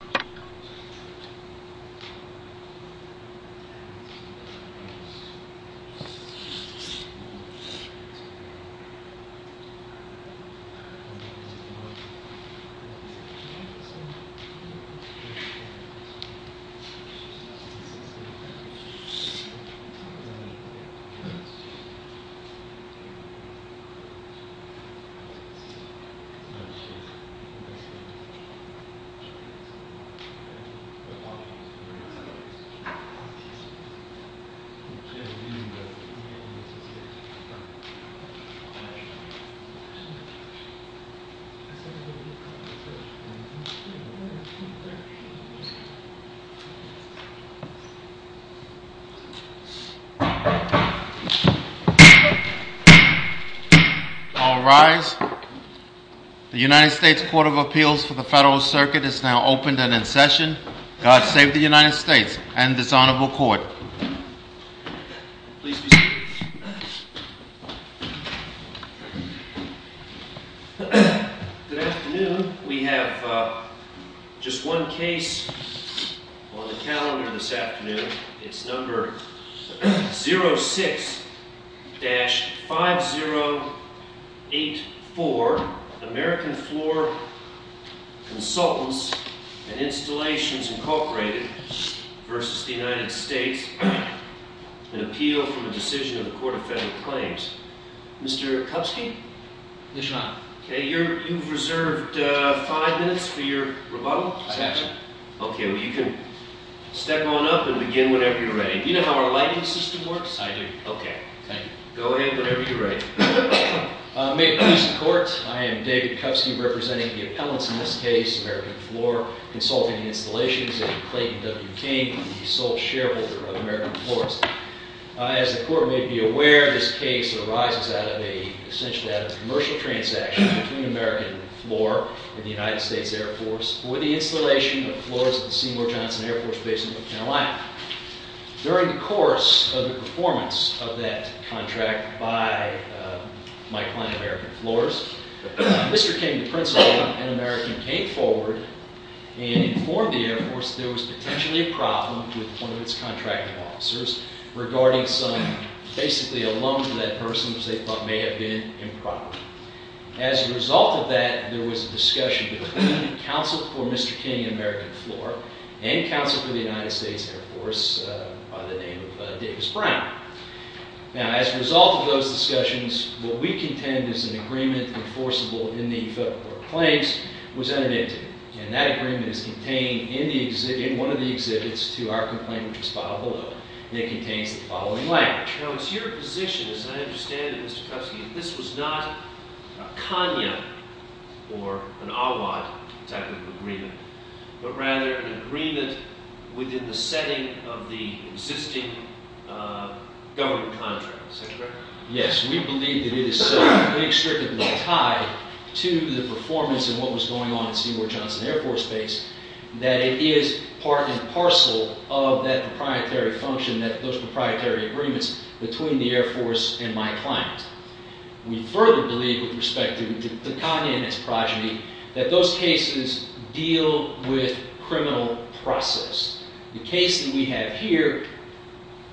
Visit to the United States Department of Health and Human Services If you are not eligible for a COVID-19 vaccine, please contact the United States Department of Health and Human Services. If you are not eligible for a COVID-19 vaccine, All rise. The United States Court of Appeals for the Federal Circuit is now opened and in session. God save the United States and this honorable court. Please be seated. Good afternoon. We have just one case on the calendar this afternoon. It's number 06-5084, American Floor Consultants and Installations Incorporated versus the United States, an appeal from a decision of the Court of Federal Claims. Mr. Kupski? Yes, Your Honor. You've reserved five minutes for your rebuttal. I have, sir. OK, well, you can step on up and begin whenever you're ready. You know how our lighting system works? I do. OK. Thank you. Go ahead whenever you're ready. May it please the Court, I am David Kupski, representing the appellants in this case, American Floor Consulting and Installations, and Clayton W. King, the sole shareholder of American Floors. As the Court may be aware, this case arises essentially out of a commercial transaction between American Floor and the United States Air Force for the installation of floors at the Seymour Johnson Air Force Base in North Carolina. During the course of the performance of that contract by my client, American Floors, Mr. King, the principal and American, came forward and informed the Air Force that there was potentially a problem with one of its contracting officers regarding some, basically, a loan to that person which they thought may have been improper. As a result of that, there was a discussion between counsel for Mr. King and American Floor and counsel for the United States Air Force by the name of Davis Bryant. Now, as a result of those discussions, what we contend is an agreement enforceable in the court claims was unadmitted. And that agreement is contained in one of the exhibits to our complaint, which is filed below. And it contains the following language. Now, it's your position, as I understand it, Mr. Kupski, that this was not a KANYA or an AWAD type of agreement, but rather an agreement within the setting of the existing government contract, is that correct? Yes. We believe that it is strictly tied to the performance of what was going on at Seymour Johnson Air Force Base, that it is part and parcel of that proprietary function, those proprietary agreements between the Air Force and my client. We further believe, with respect to the KANYA and its progeny, that those cases deal with criminal process. The case that we have here,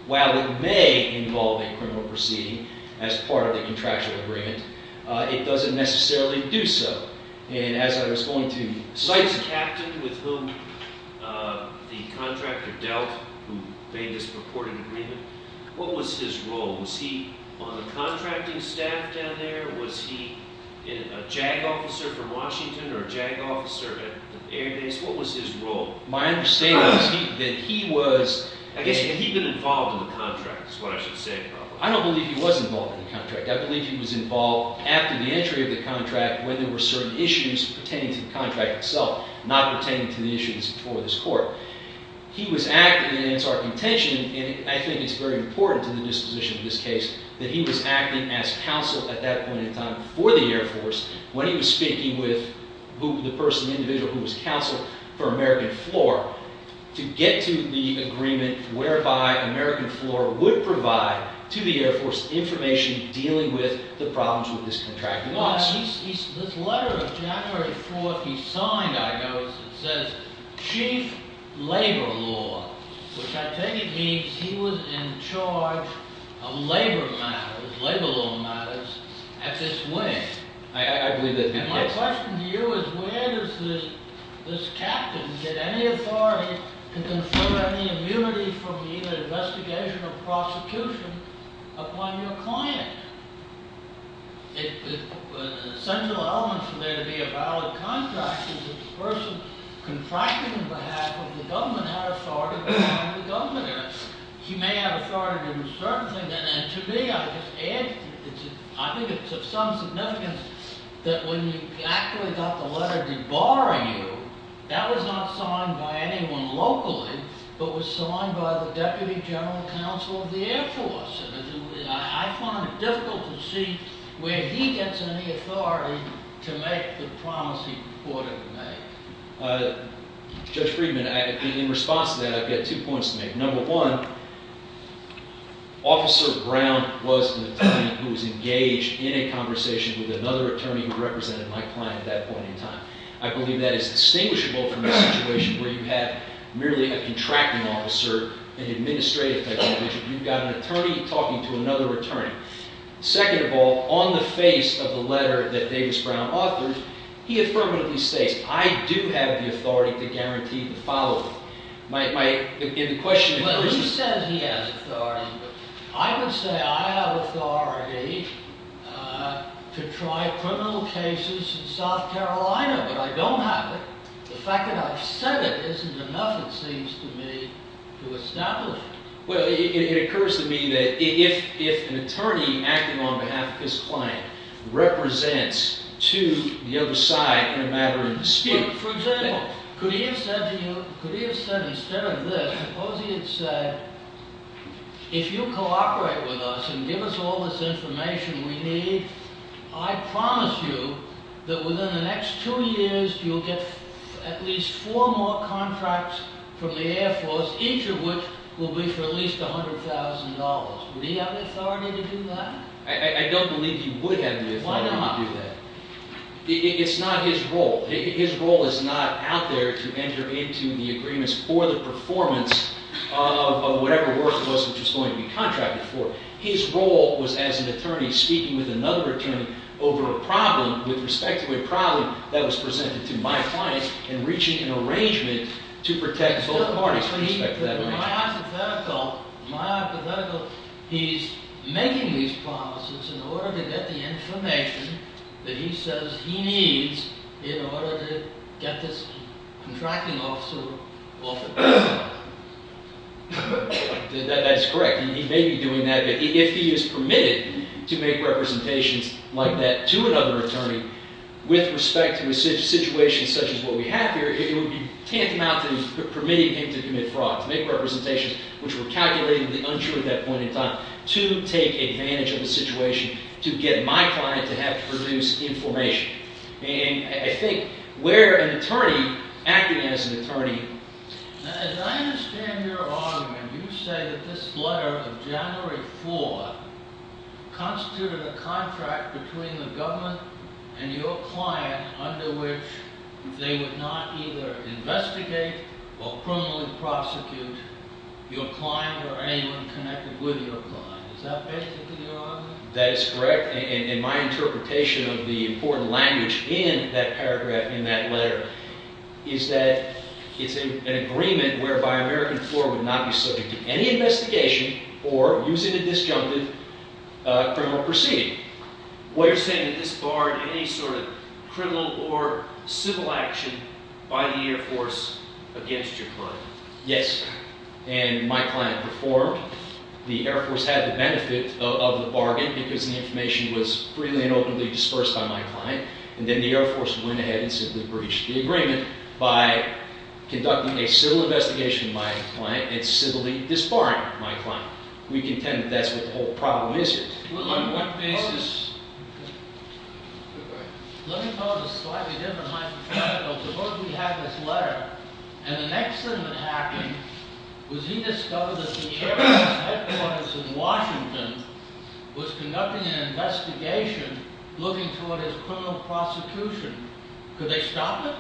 while it may involve a criminal proceeding as part of the contractual agreement, it doesn't necessarily do so. And as I was going to cite the captain with whom the contractor dealt who made this purported agreement, what was his role? Was he on the contracting staff down there? Was he a JAG officer from Washington or a JAG officer at Air Base? What was his role? My understanding is that he was. I guess he'd been involved in the contract, is what I should say. I don't believe he was involved in the contract. I believe he was involved after the entry of the contract when there were certain issues pertaining to the contract itself, not pertaining to the issues before this court. He was active in its architecture. I think it's very important to the disposition of this case that he was acting as counsel at that point in time for the Air Force when he was speaking with the person, the individual who was counsel for American Floor to get to the agreement whereby American Floor would provide to the Air Force information dealing with the problems with this contract. This letter of January 4th he signed, I noticed, it says, chief labor law, which I take it means he was in charge of labor matters, labor law matters, at this wing. I believe that's him. My question to you is, where does this captain get any authority to confer any immunity from either investigation or prosecution upon your client? Essential elements for there to be a valid contract is if the person confronted on behalf of the government had authority behind the government. He may have authority to do certain things. And to me, I think it's of some significance that when you actually got the letter debarring you, that was not signed by anyone locally, but was signed by the deputy general counsel of the Air Force. I find it difficult to see where he gets any authority to make the promise he put in the letter. Judge Friedman, in response to that, I've got two points to make. Number one, Officer Brown was an attorney who was engaged in a conversation with another attorney who represented my client at that point in time. I believe that is distinguishable from a situation where you have merely a contracting officer, an administrative technician. You've got an attorney talking to another attorney. Second of all, on the face of the letter that Davis Brown authored, he affirmatively states, I do have the authority to guarantee the follow-up. My question is, there isn't. Well, he says he has authority. I would say I have authority to try criminal cases in South Carolina, but I don't have it. The fact that I've said it isn't enough, it seems to me, to establish it. Well, it occurs to me that if an attorney acting on behalf of his client represents to the other side a matter of dispute. For example, could he have said to you, could he have said instead of this, suppose he had said, if you cooperate with us and give us all this information we need, I promise you that within the next two years, you'll get at least four more contracts from the Air Force, each of which will be for at least $100,000. Would he have the authority to do that? I don't believe he would have the authority to do that. Why not? It's not his role. His role is not out there to enter into the agreements for the performance of whatever work it was which was going to be contracted for. His role was as an attorney speaking with another attorney over a problem, with respect to a problem that was presented to my client, and reaching an arrangement to protect both parties with respect to that arrangement. My hypothetical, he's making these promises in order to get the information that he says he needs in order to get this contracting officer off the job. That's correct. He may be doing that. But if he is permitted to make representations like that to another attorney with respect to a situation such as what we have here, it would be tantamount to permitting him to commit fraud, to make representations which were calculatedly unsure at that point in time, to take advantage of the situation to get my client to have to produce information. And I think where an attorney acting as an attorney. As I understand your argument, you say that this letter of January 4 constituted a contract between the government and your client under which they would not either investigate or criminally prosecute your client or anyone connected with your client. Is that basically your argument? That is correct. And my interpretation of the important language in that paragraph in that letter is that it's an agreement whereby American Florida would not be subject to any investigation for using a disjuncted criminal proceeding. We're saying that this barred any sort of criminal or civil action by the Air Force against your client. Yes. And my client performed. The Air Force had the benefit of the bargain because the information was freely and openly dispersed by my client. And then the Air Force went ahead and simply breached the agreement by conducting a civil investigation of my client and civilly disbarring my client. We contend that that's what the whole problem is here. On what basis? Let me tell you a slightly different hypothetical. Suppose we have this letter. And the next thing that happened was he discovered that the Air Force headquarters in Washington was conducting an investigation looking toward his criminal prosecution. Could they stop it?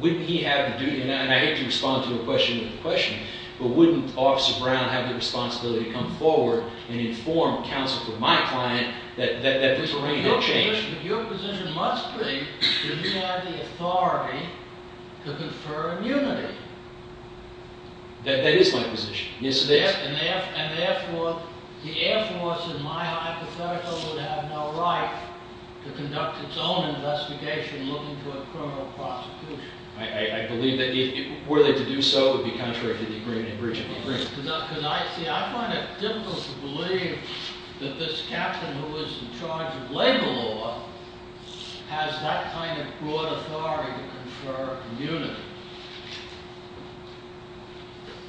Wouldn't he have to do that? And I hate to respond to your question with a question. But wouldn't Officer Brown have the responsibility to come forward and inform counsel for my client that the terrain had changed? Your position must be that he had the authority to confer immunity. That is my position. Yes, it is. And therefore, the Air Force, in my hypothetical, would have no right to conduct its own investigation looking toward criminal prosecution. I believe that were they to do so, it would be contrary to the agreement and breaching the agreement. I find it difficult to believe that this captain who is in charge of land law has that kind of broad authority to confer immunity.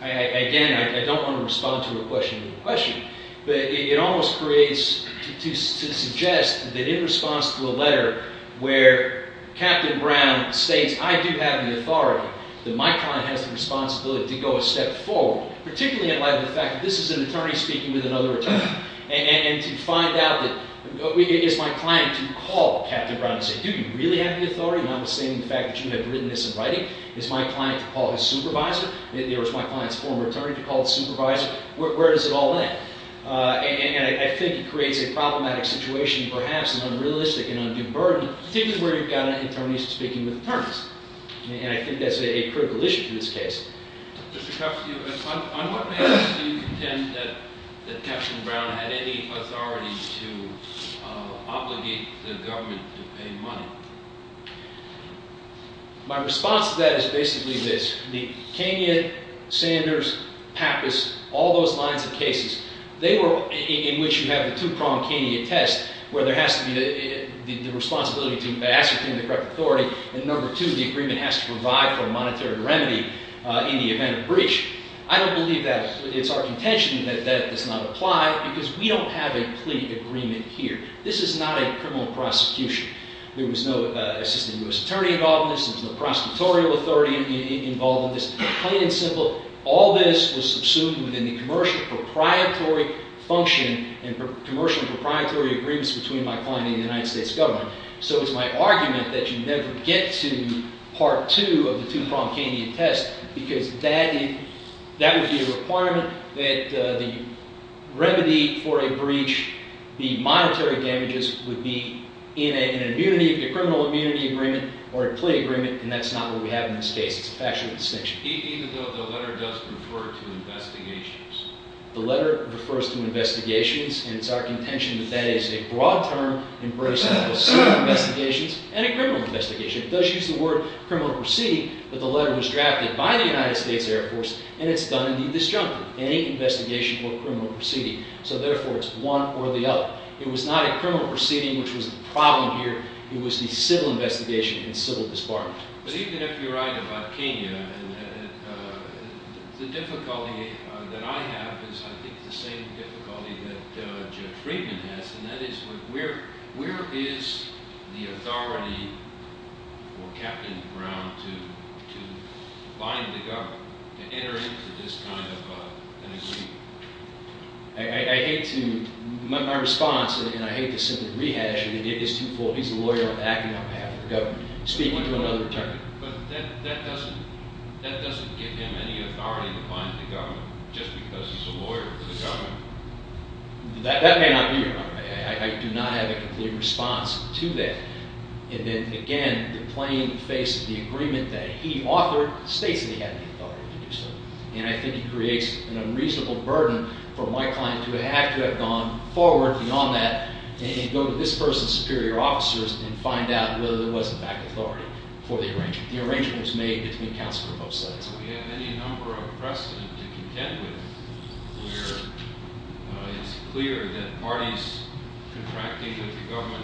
Again, I don't want to respond to a question with a question. But it almost creates to suggest that in response to a letter where Captain Brown states, I do have the authority, that my client has the responsibility to go a step forward, particularly in light of the fact that this is an attorney speaking with another attorney. And to find out that, is my client to call Captain Brown and say, do you really have the authority, notwithstanding the fact that you have written this in writing? Is my client to call his supervisor? Or is my client's former attorney to call his supervisor? Where does it all end? And I think it creates a problematic situation, perhaps an unrealistic and undue burden, particularly where you've got an attorney speaking with attorneys. And I think that's a critical issue in this case. Mr. Cuff, on what basis do you contend that Captain Brown had any authority to obligate the government to pay money? My response to that is basically this. The Kenyan, Sanders, Pappas, all those lines of cases, they were in which you have the two-pronged Kenyan test, where there has to be the responsibility to ascertain the correct authority. And number two, the agreement has to provide for a monetary remedy in the event of breach. I don't believe that it's our contention that that does not apply, because we don't have a plea agreement here. This is not a criminal prosecution. There was no assistant US attorney involved in this. There was no prosecutorial authority involved in this. Plain and simple, all this was subsumed within the commercial proprietary function and commercial proprietary agreements between my client and the United States government. So it's my argument that you never get to part two of the two-pronged Kenyan test, because that would be a requirement that the remedy for a breach, the monetary damages, would be in a criminal immunity agreement or a plea agreement. And that's not what we have in this case. It's a factual distinction. Even though the letter does refer to investigations? The letter refers to investigations. And it's our contention that that is a broad term embracing of the same investigations and a criminal investigation. It does use the word criminal proceeding, but the letter was drafted by the United States Air Force, and it's done in the disjunctive. Any investigation or criminal proceeding. So therefore, it's one or the other. It was not a criminal proceeding, which was the problem here. It was the civil investigation and civil disbarment. But even if you're right about Kenya, the difficulty that I have is, I think, the same difficulty that Judge Friedman has. And that is, where is the authority for Captain Brown to bind the government, to enter into this kind of an agreement? I hate to, my response, and I hate to send him to rehash, and it is too full. He's a lawyer acting on behalf of the government, speaking to another attorney. But that doesn't give him any authority to bind the government, just because he's a lawyer for the government. That may not be. I do not have a complete response to that. And then, again, the plain face of the agreement that he authored states that he had the authority to do so. And I think it creates an unreasonable burden for my client to have to have gone forward beyond that, and go to this person's superior officers, and find out whether there was, in fact, authority for the arrangement. The arrangement was made between counsel for both sides. We have any number of precedent to contend with, where it's clear that parties contracting with the government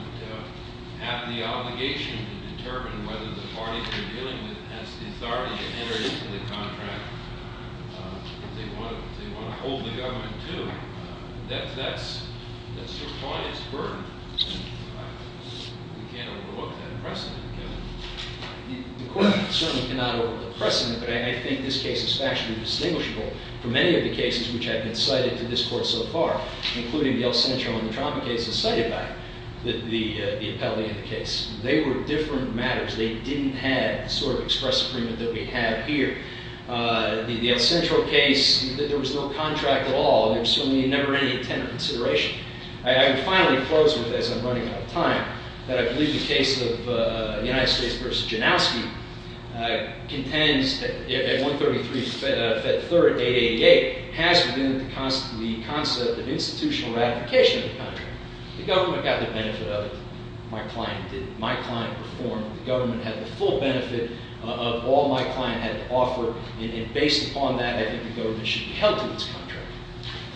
have the obligation to determine whether the party they're dealing with has the authority to enter into the contract. If they want to hold the government to, that's your client's burden. You can't overlook that precedent, Kevin. The court certainly cannot overlook the precedent, but I think this case is factually distinguishable from many of the cases which have been cited to this court so far, including the El Centro and the Trauma case cited by it. The appellee in the case, they were different matters. They didn't have the sort of express agreement that we have here. The El Centro case, there was no contract at all. There was certainly never any intent or consideration. I would finally close with, as I'm running out of time, that I believe the case of the United States versus Janowski contends that 133 Fed 3rd 888 has within it the concept of institutional ratification of the contract. The government got the benefit of it. My client did. My client performed. The government had the full benefit of all my client had to offer. And based upon that, I think the government should be held to its contract.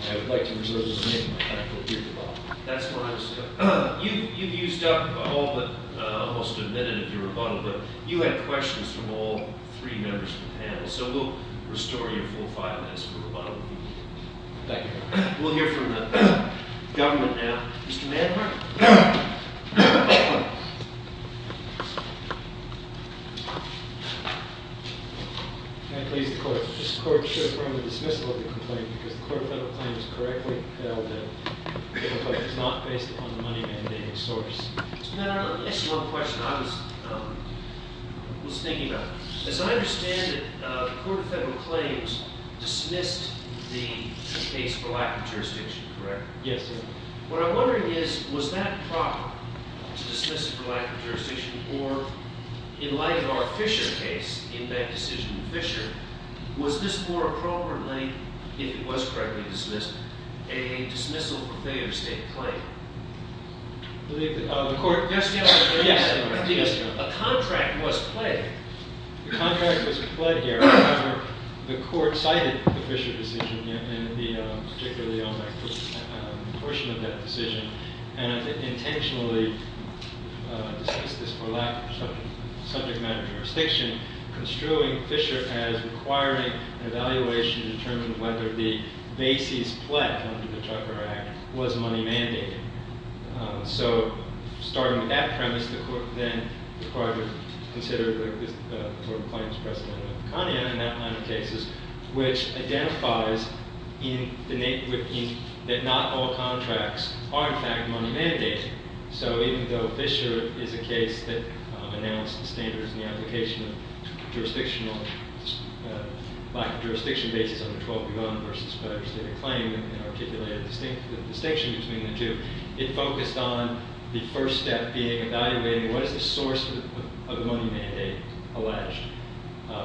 I would like to reserve the remainder of my time for a brief rebuttal. That's fine, sir. You've used up almost a minute of your rebuttal, but you had questions from all three members of the panel. So we'll restore your full five minutes for rebuttal. Thank you. We'll hear from the government now. Mr. Manhart? Can I please, the court? This court should run the dismissal of the complaint because the court of federal claims correctly held that the complaint was not based upon the money mandating source. Mr. Manhart, I have a question I was thinking about. As I understand it, the court of federal claims dismissed the case for lack of jurisdiction, correct? Yes, sir. What I'm wondering is, was that proper, to dismiss it for lack of jurisdiction, or in light of our Fisher case, in that decision with Fisher, was this more appropriately, if it was correctly dismissed, a dismissal for failure to state the claim? The court, yes, yes, yes. A contract was pled. The contract was pled here. The court cited the Fisher decision, and particularly on that portion of that decision, and intentionally dismissed this for lack of subject matter jurisdiction, construing Fisher as requiring an evaluation to determine whether the basis pled under the Tucker Act was money mandating. So starting with that premise, the court then required to consider the court of claims precedent of the Conian, and that line of cases, which identifies that not all contracts are, in fact, money mandating. So even though Fisher is a case that announced the standards and the application of jurisdictional, lack of jurisdiction basis under 12.1 versus pledged to state a claim, and articulated the distinction between the two, it focused on the first step being evaluating what is the source of the money mandate alleged.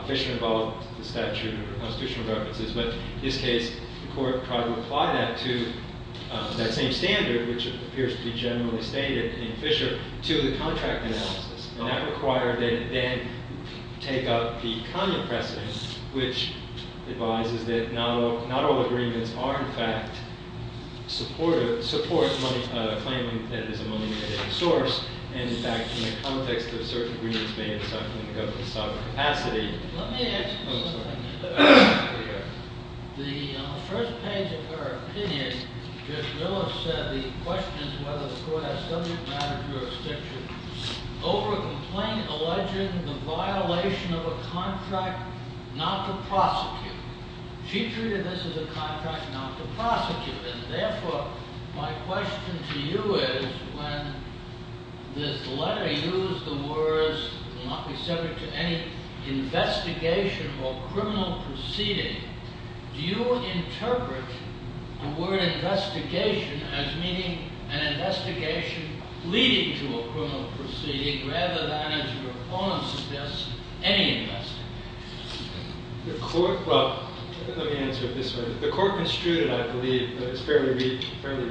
Fisher involved the statute of constitutional preferences, but in his case, the court tried to apply that to that same standard, which appears to be generally stated in Fisher, to the contract analysis. And that required that it then take up the Conian precedent, which advises that not all agreements are, in fact, support money claiming that it is a money mandating source. And in fact, in the context of certain agreements being in some capacity. Let me ask you something. On the first page of her opinion, Ms. Willis said the question is whether the court has subject matter jurisdiction over a complaint alleging the violation of a contract not to prosecute. She treated this as a contract not to prosecute. And therefore, my question to you is, when this letter used the words not be subject to any investigation or criminal proceeding, do you interpret the word investigation as meaning an investigation leading to a criminal proceeding, rather than, as your opponent suggests, any investigation? The court, well, let me answer it this way. The court construed it, I believe, but it's fairly read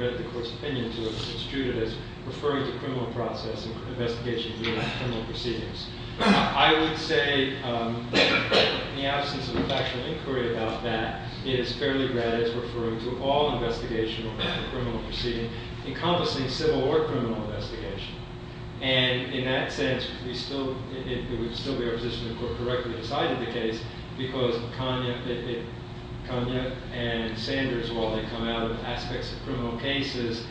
at the court's opinion to have construed it as referring to criminal process and investigation leading to criminal proceedings. I would say, in the absence of a factual inquiry about that, it is fairly read as referring to all investigational and criminal proceeding encompassing civil or criminal investigation. And in that sense, it would still be our position if the court correctly decided the case, because Konya and Sanders, while they come out of aspects of criminal cases,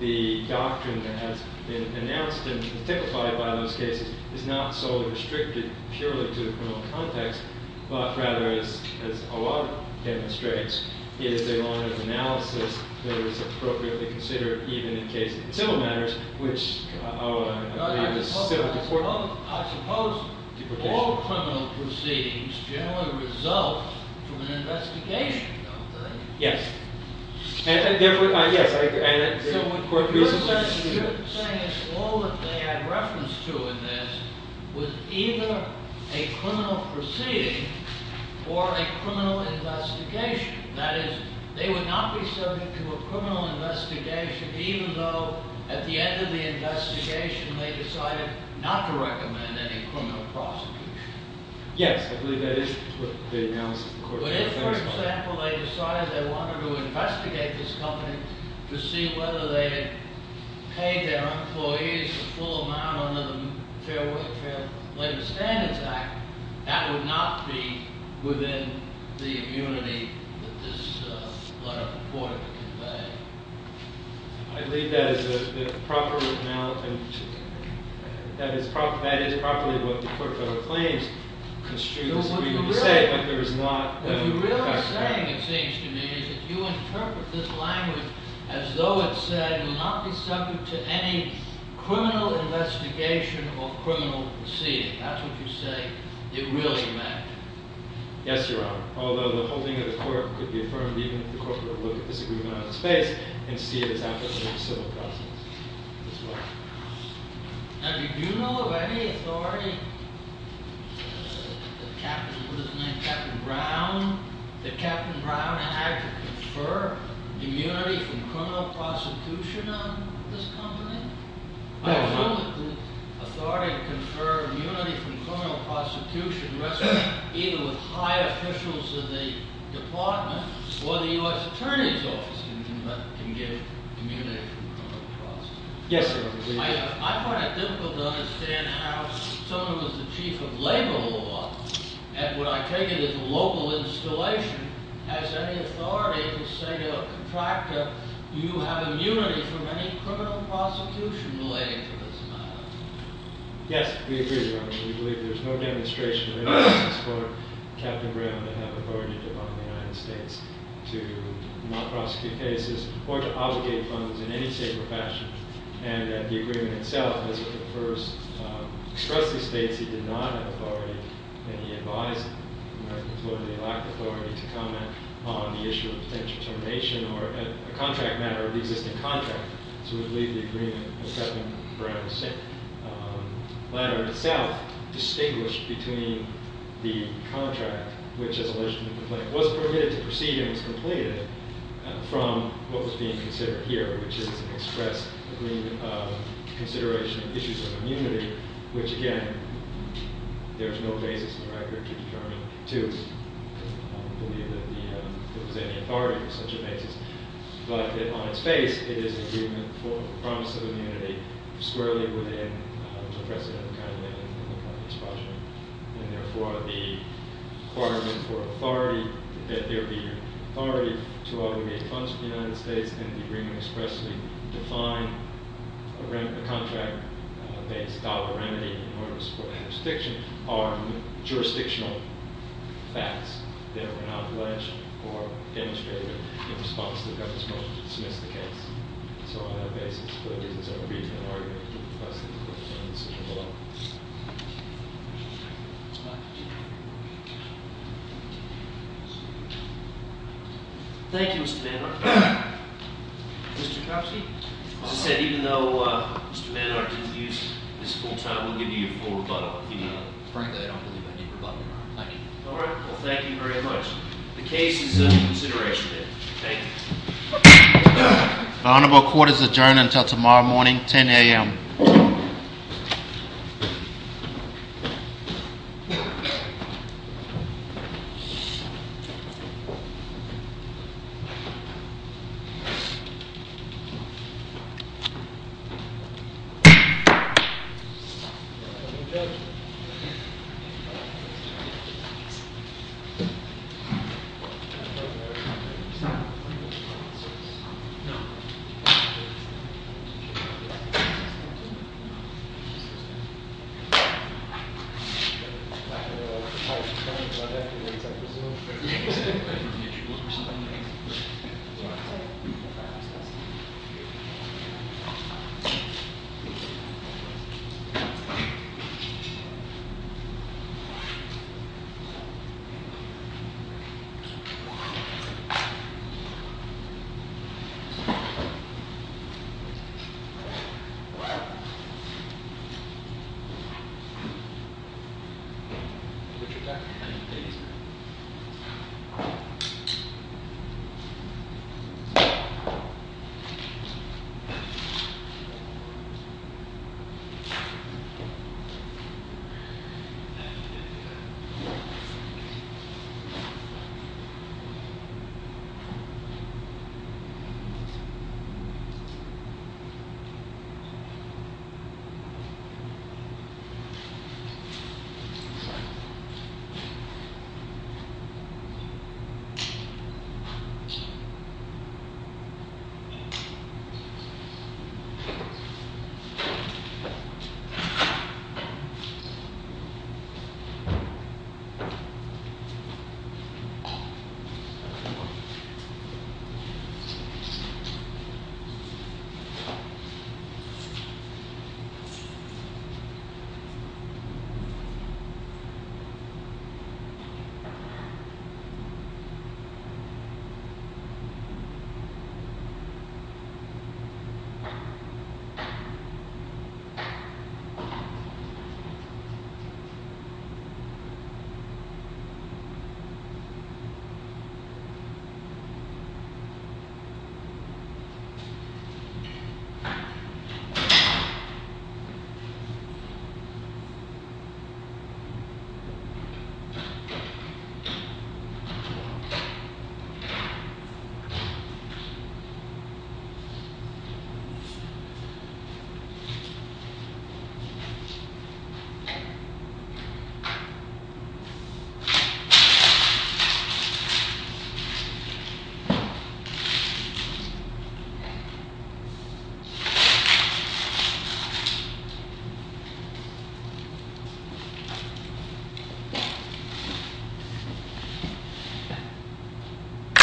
the doctrine that has been announced and typified by those cases is not solely restricted purely to the criminal context, but rather, as O'Rourke demonstrates, is a line of analysis that is appropriately considered even in cases of civil matters, which O'Rourke and I believe is still important. I suppose all criminal proceedings generally result from an investigation, don't they? Yes. And therefore, yes, I agree. So what you're saying is all that they had reference to in this was either a criminal proceeding or a criminal investigation. That is, they would not be subject to a criminal investigation even though at the end of the investigation they decided not to recommend any criminal prosecution. Yes. I believe that is what the analysis of the court would have been. But if, for example, they decided they wanted to investigate this company to see whether they had paid their employees a full amount under the Fair Labor Standards Act, that would not be within the immunity that this letter purported to convey. I believe that is the proper amount. That is properly what the court claims. It's true what you say, but there is not. What you're really saying, it seems to me, is that you interpret this language as though it said it would not be subject to any criminal investigation or criminal proceeding. That's what you say it really meant. Yes, Your Honor. Although the whole thing of the court could be affirmed even if the court would look at this agreement on its face and see it as absolutely a civil process as well. Now, did you know of any authority that Captain Brown that Captain Brown had to confer immunity from criminal prosecution on this company? No. I don't know that the authority to confer immunity from criminal prosecution rests either with high officials of the department or the U.S. Attorney's Office can give immunity from criminal prosecution. Yes, Your Honor. I find it difficult to understand how someone who's the chief of labor law, and when I take it at the local installation, has any authority to say to a contractor, you have immunity from any criminal prosecution relating to this matter. Yes, we agree, Your Honor. We believe there's no demonstration of innocence for Captain Brown to have authority to define the United States to not prosecute cases or to obligate funds in any safer fashion. And the agreement itself, as it refers, expressedly states he did not have authority, and he advised the U.S. Attorney-at-Large to comment on the issue of potential termination or a contract matter of the existing contract. So we believe the agreement of Captain Brown's letter itself distinguished between the contract, which, as alleged in the complaint, was permitted to proceed and was completed, from what was being considered here, which is an express agreement of consideration of issues of immunity, which, again, there's no basis in the record to determine, too. I don't believe that there was any authority for such a basis. But on its face, it is an agreement for promise of immunity squarely within the precedent of the kind of expulsion. And therefore, the requirement for authority that there be authority to obligate funds to the United States and the agreement expressly define a contract-based dollar remedy in order to support the jurisdiction are jurisdictional facts that were not alleged or demonstrated in response to the government's motion to dismiss the case. So on that basis, it's a brief argument that the case is under consideration here. Thank you. Thank you, Mr. Mannheim. Mr. Kapski? As I said, even though Mr. Mannheim didn't use his full term, we'll give you your full rebuttal. Frankly, I don't believe I need rebuttal. Thank you. All right. Well, thank you very much. The case is under consideration here. Thank you. The Honorable Court is adjourned until tomorrow morning, 10 a.m. Thank you. Quiet. Quiet. Quiet. Quiet. Quiet.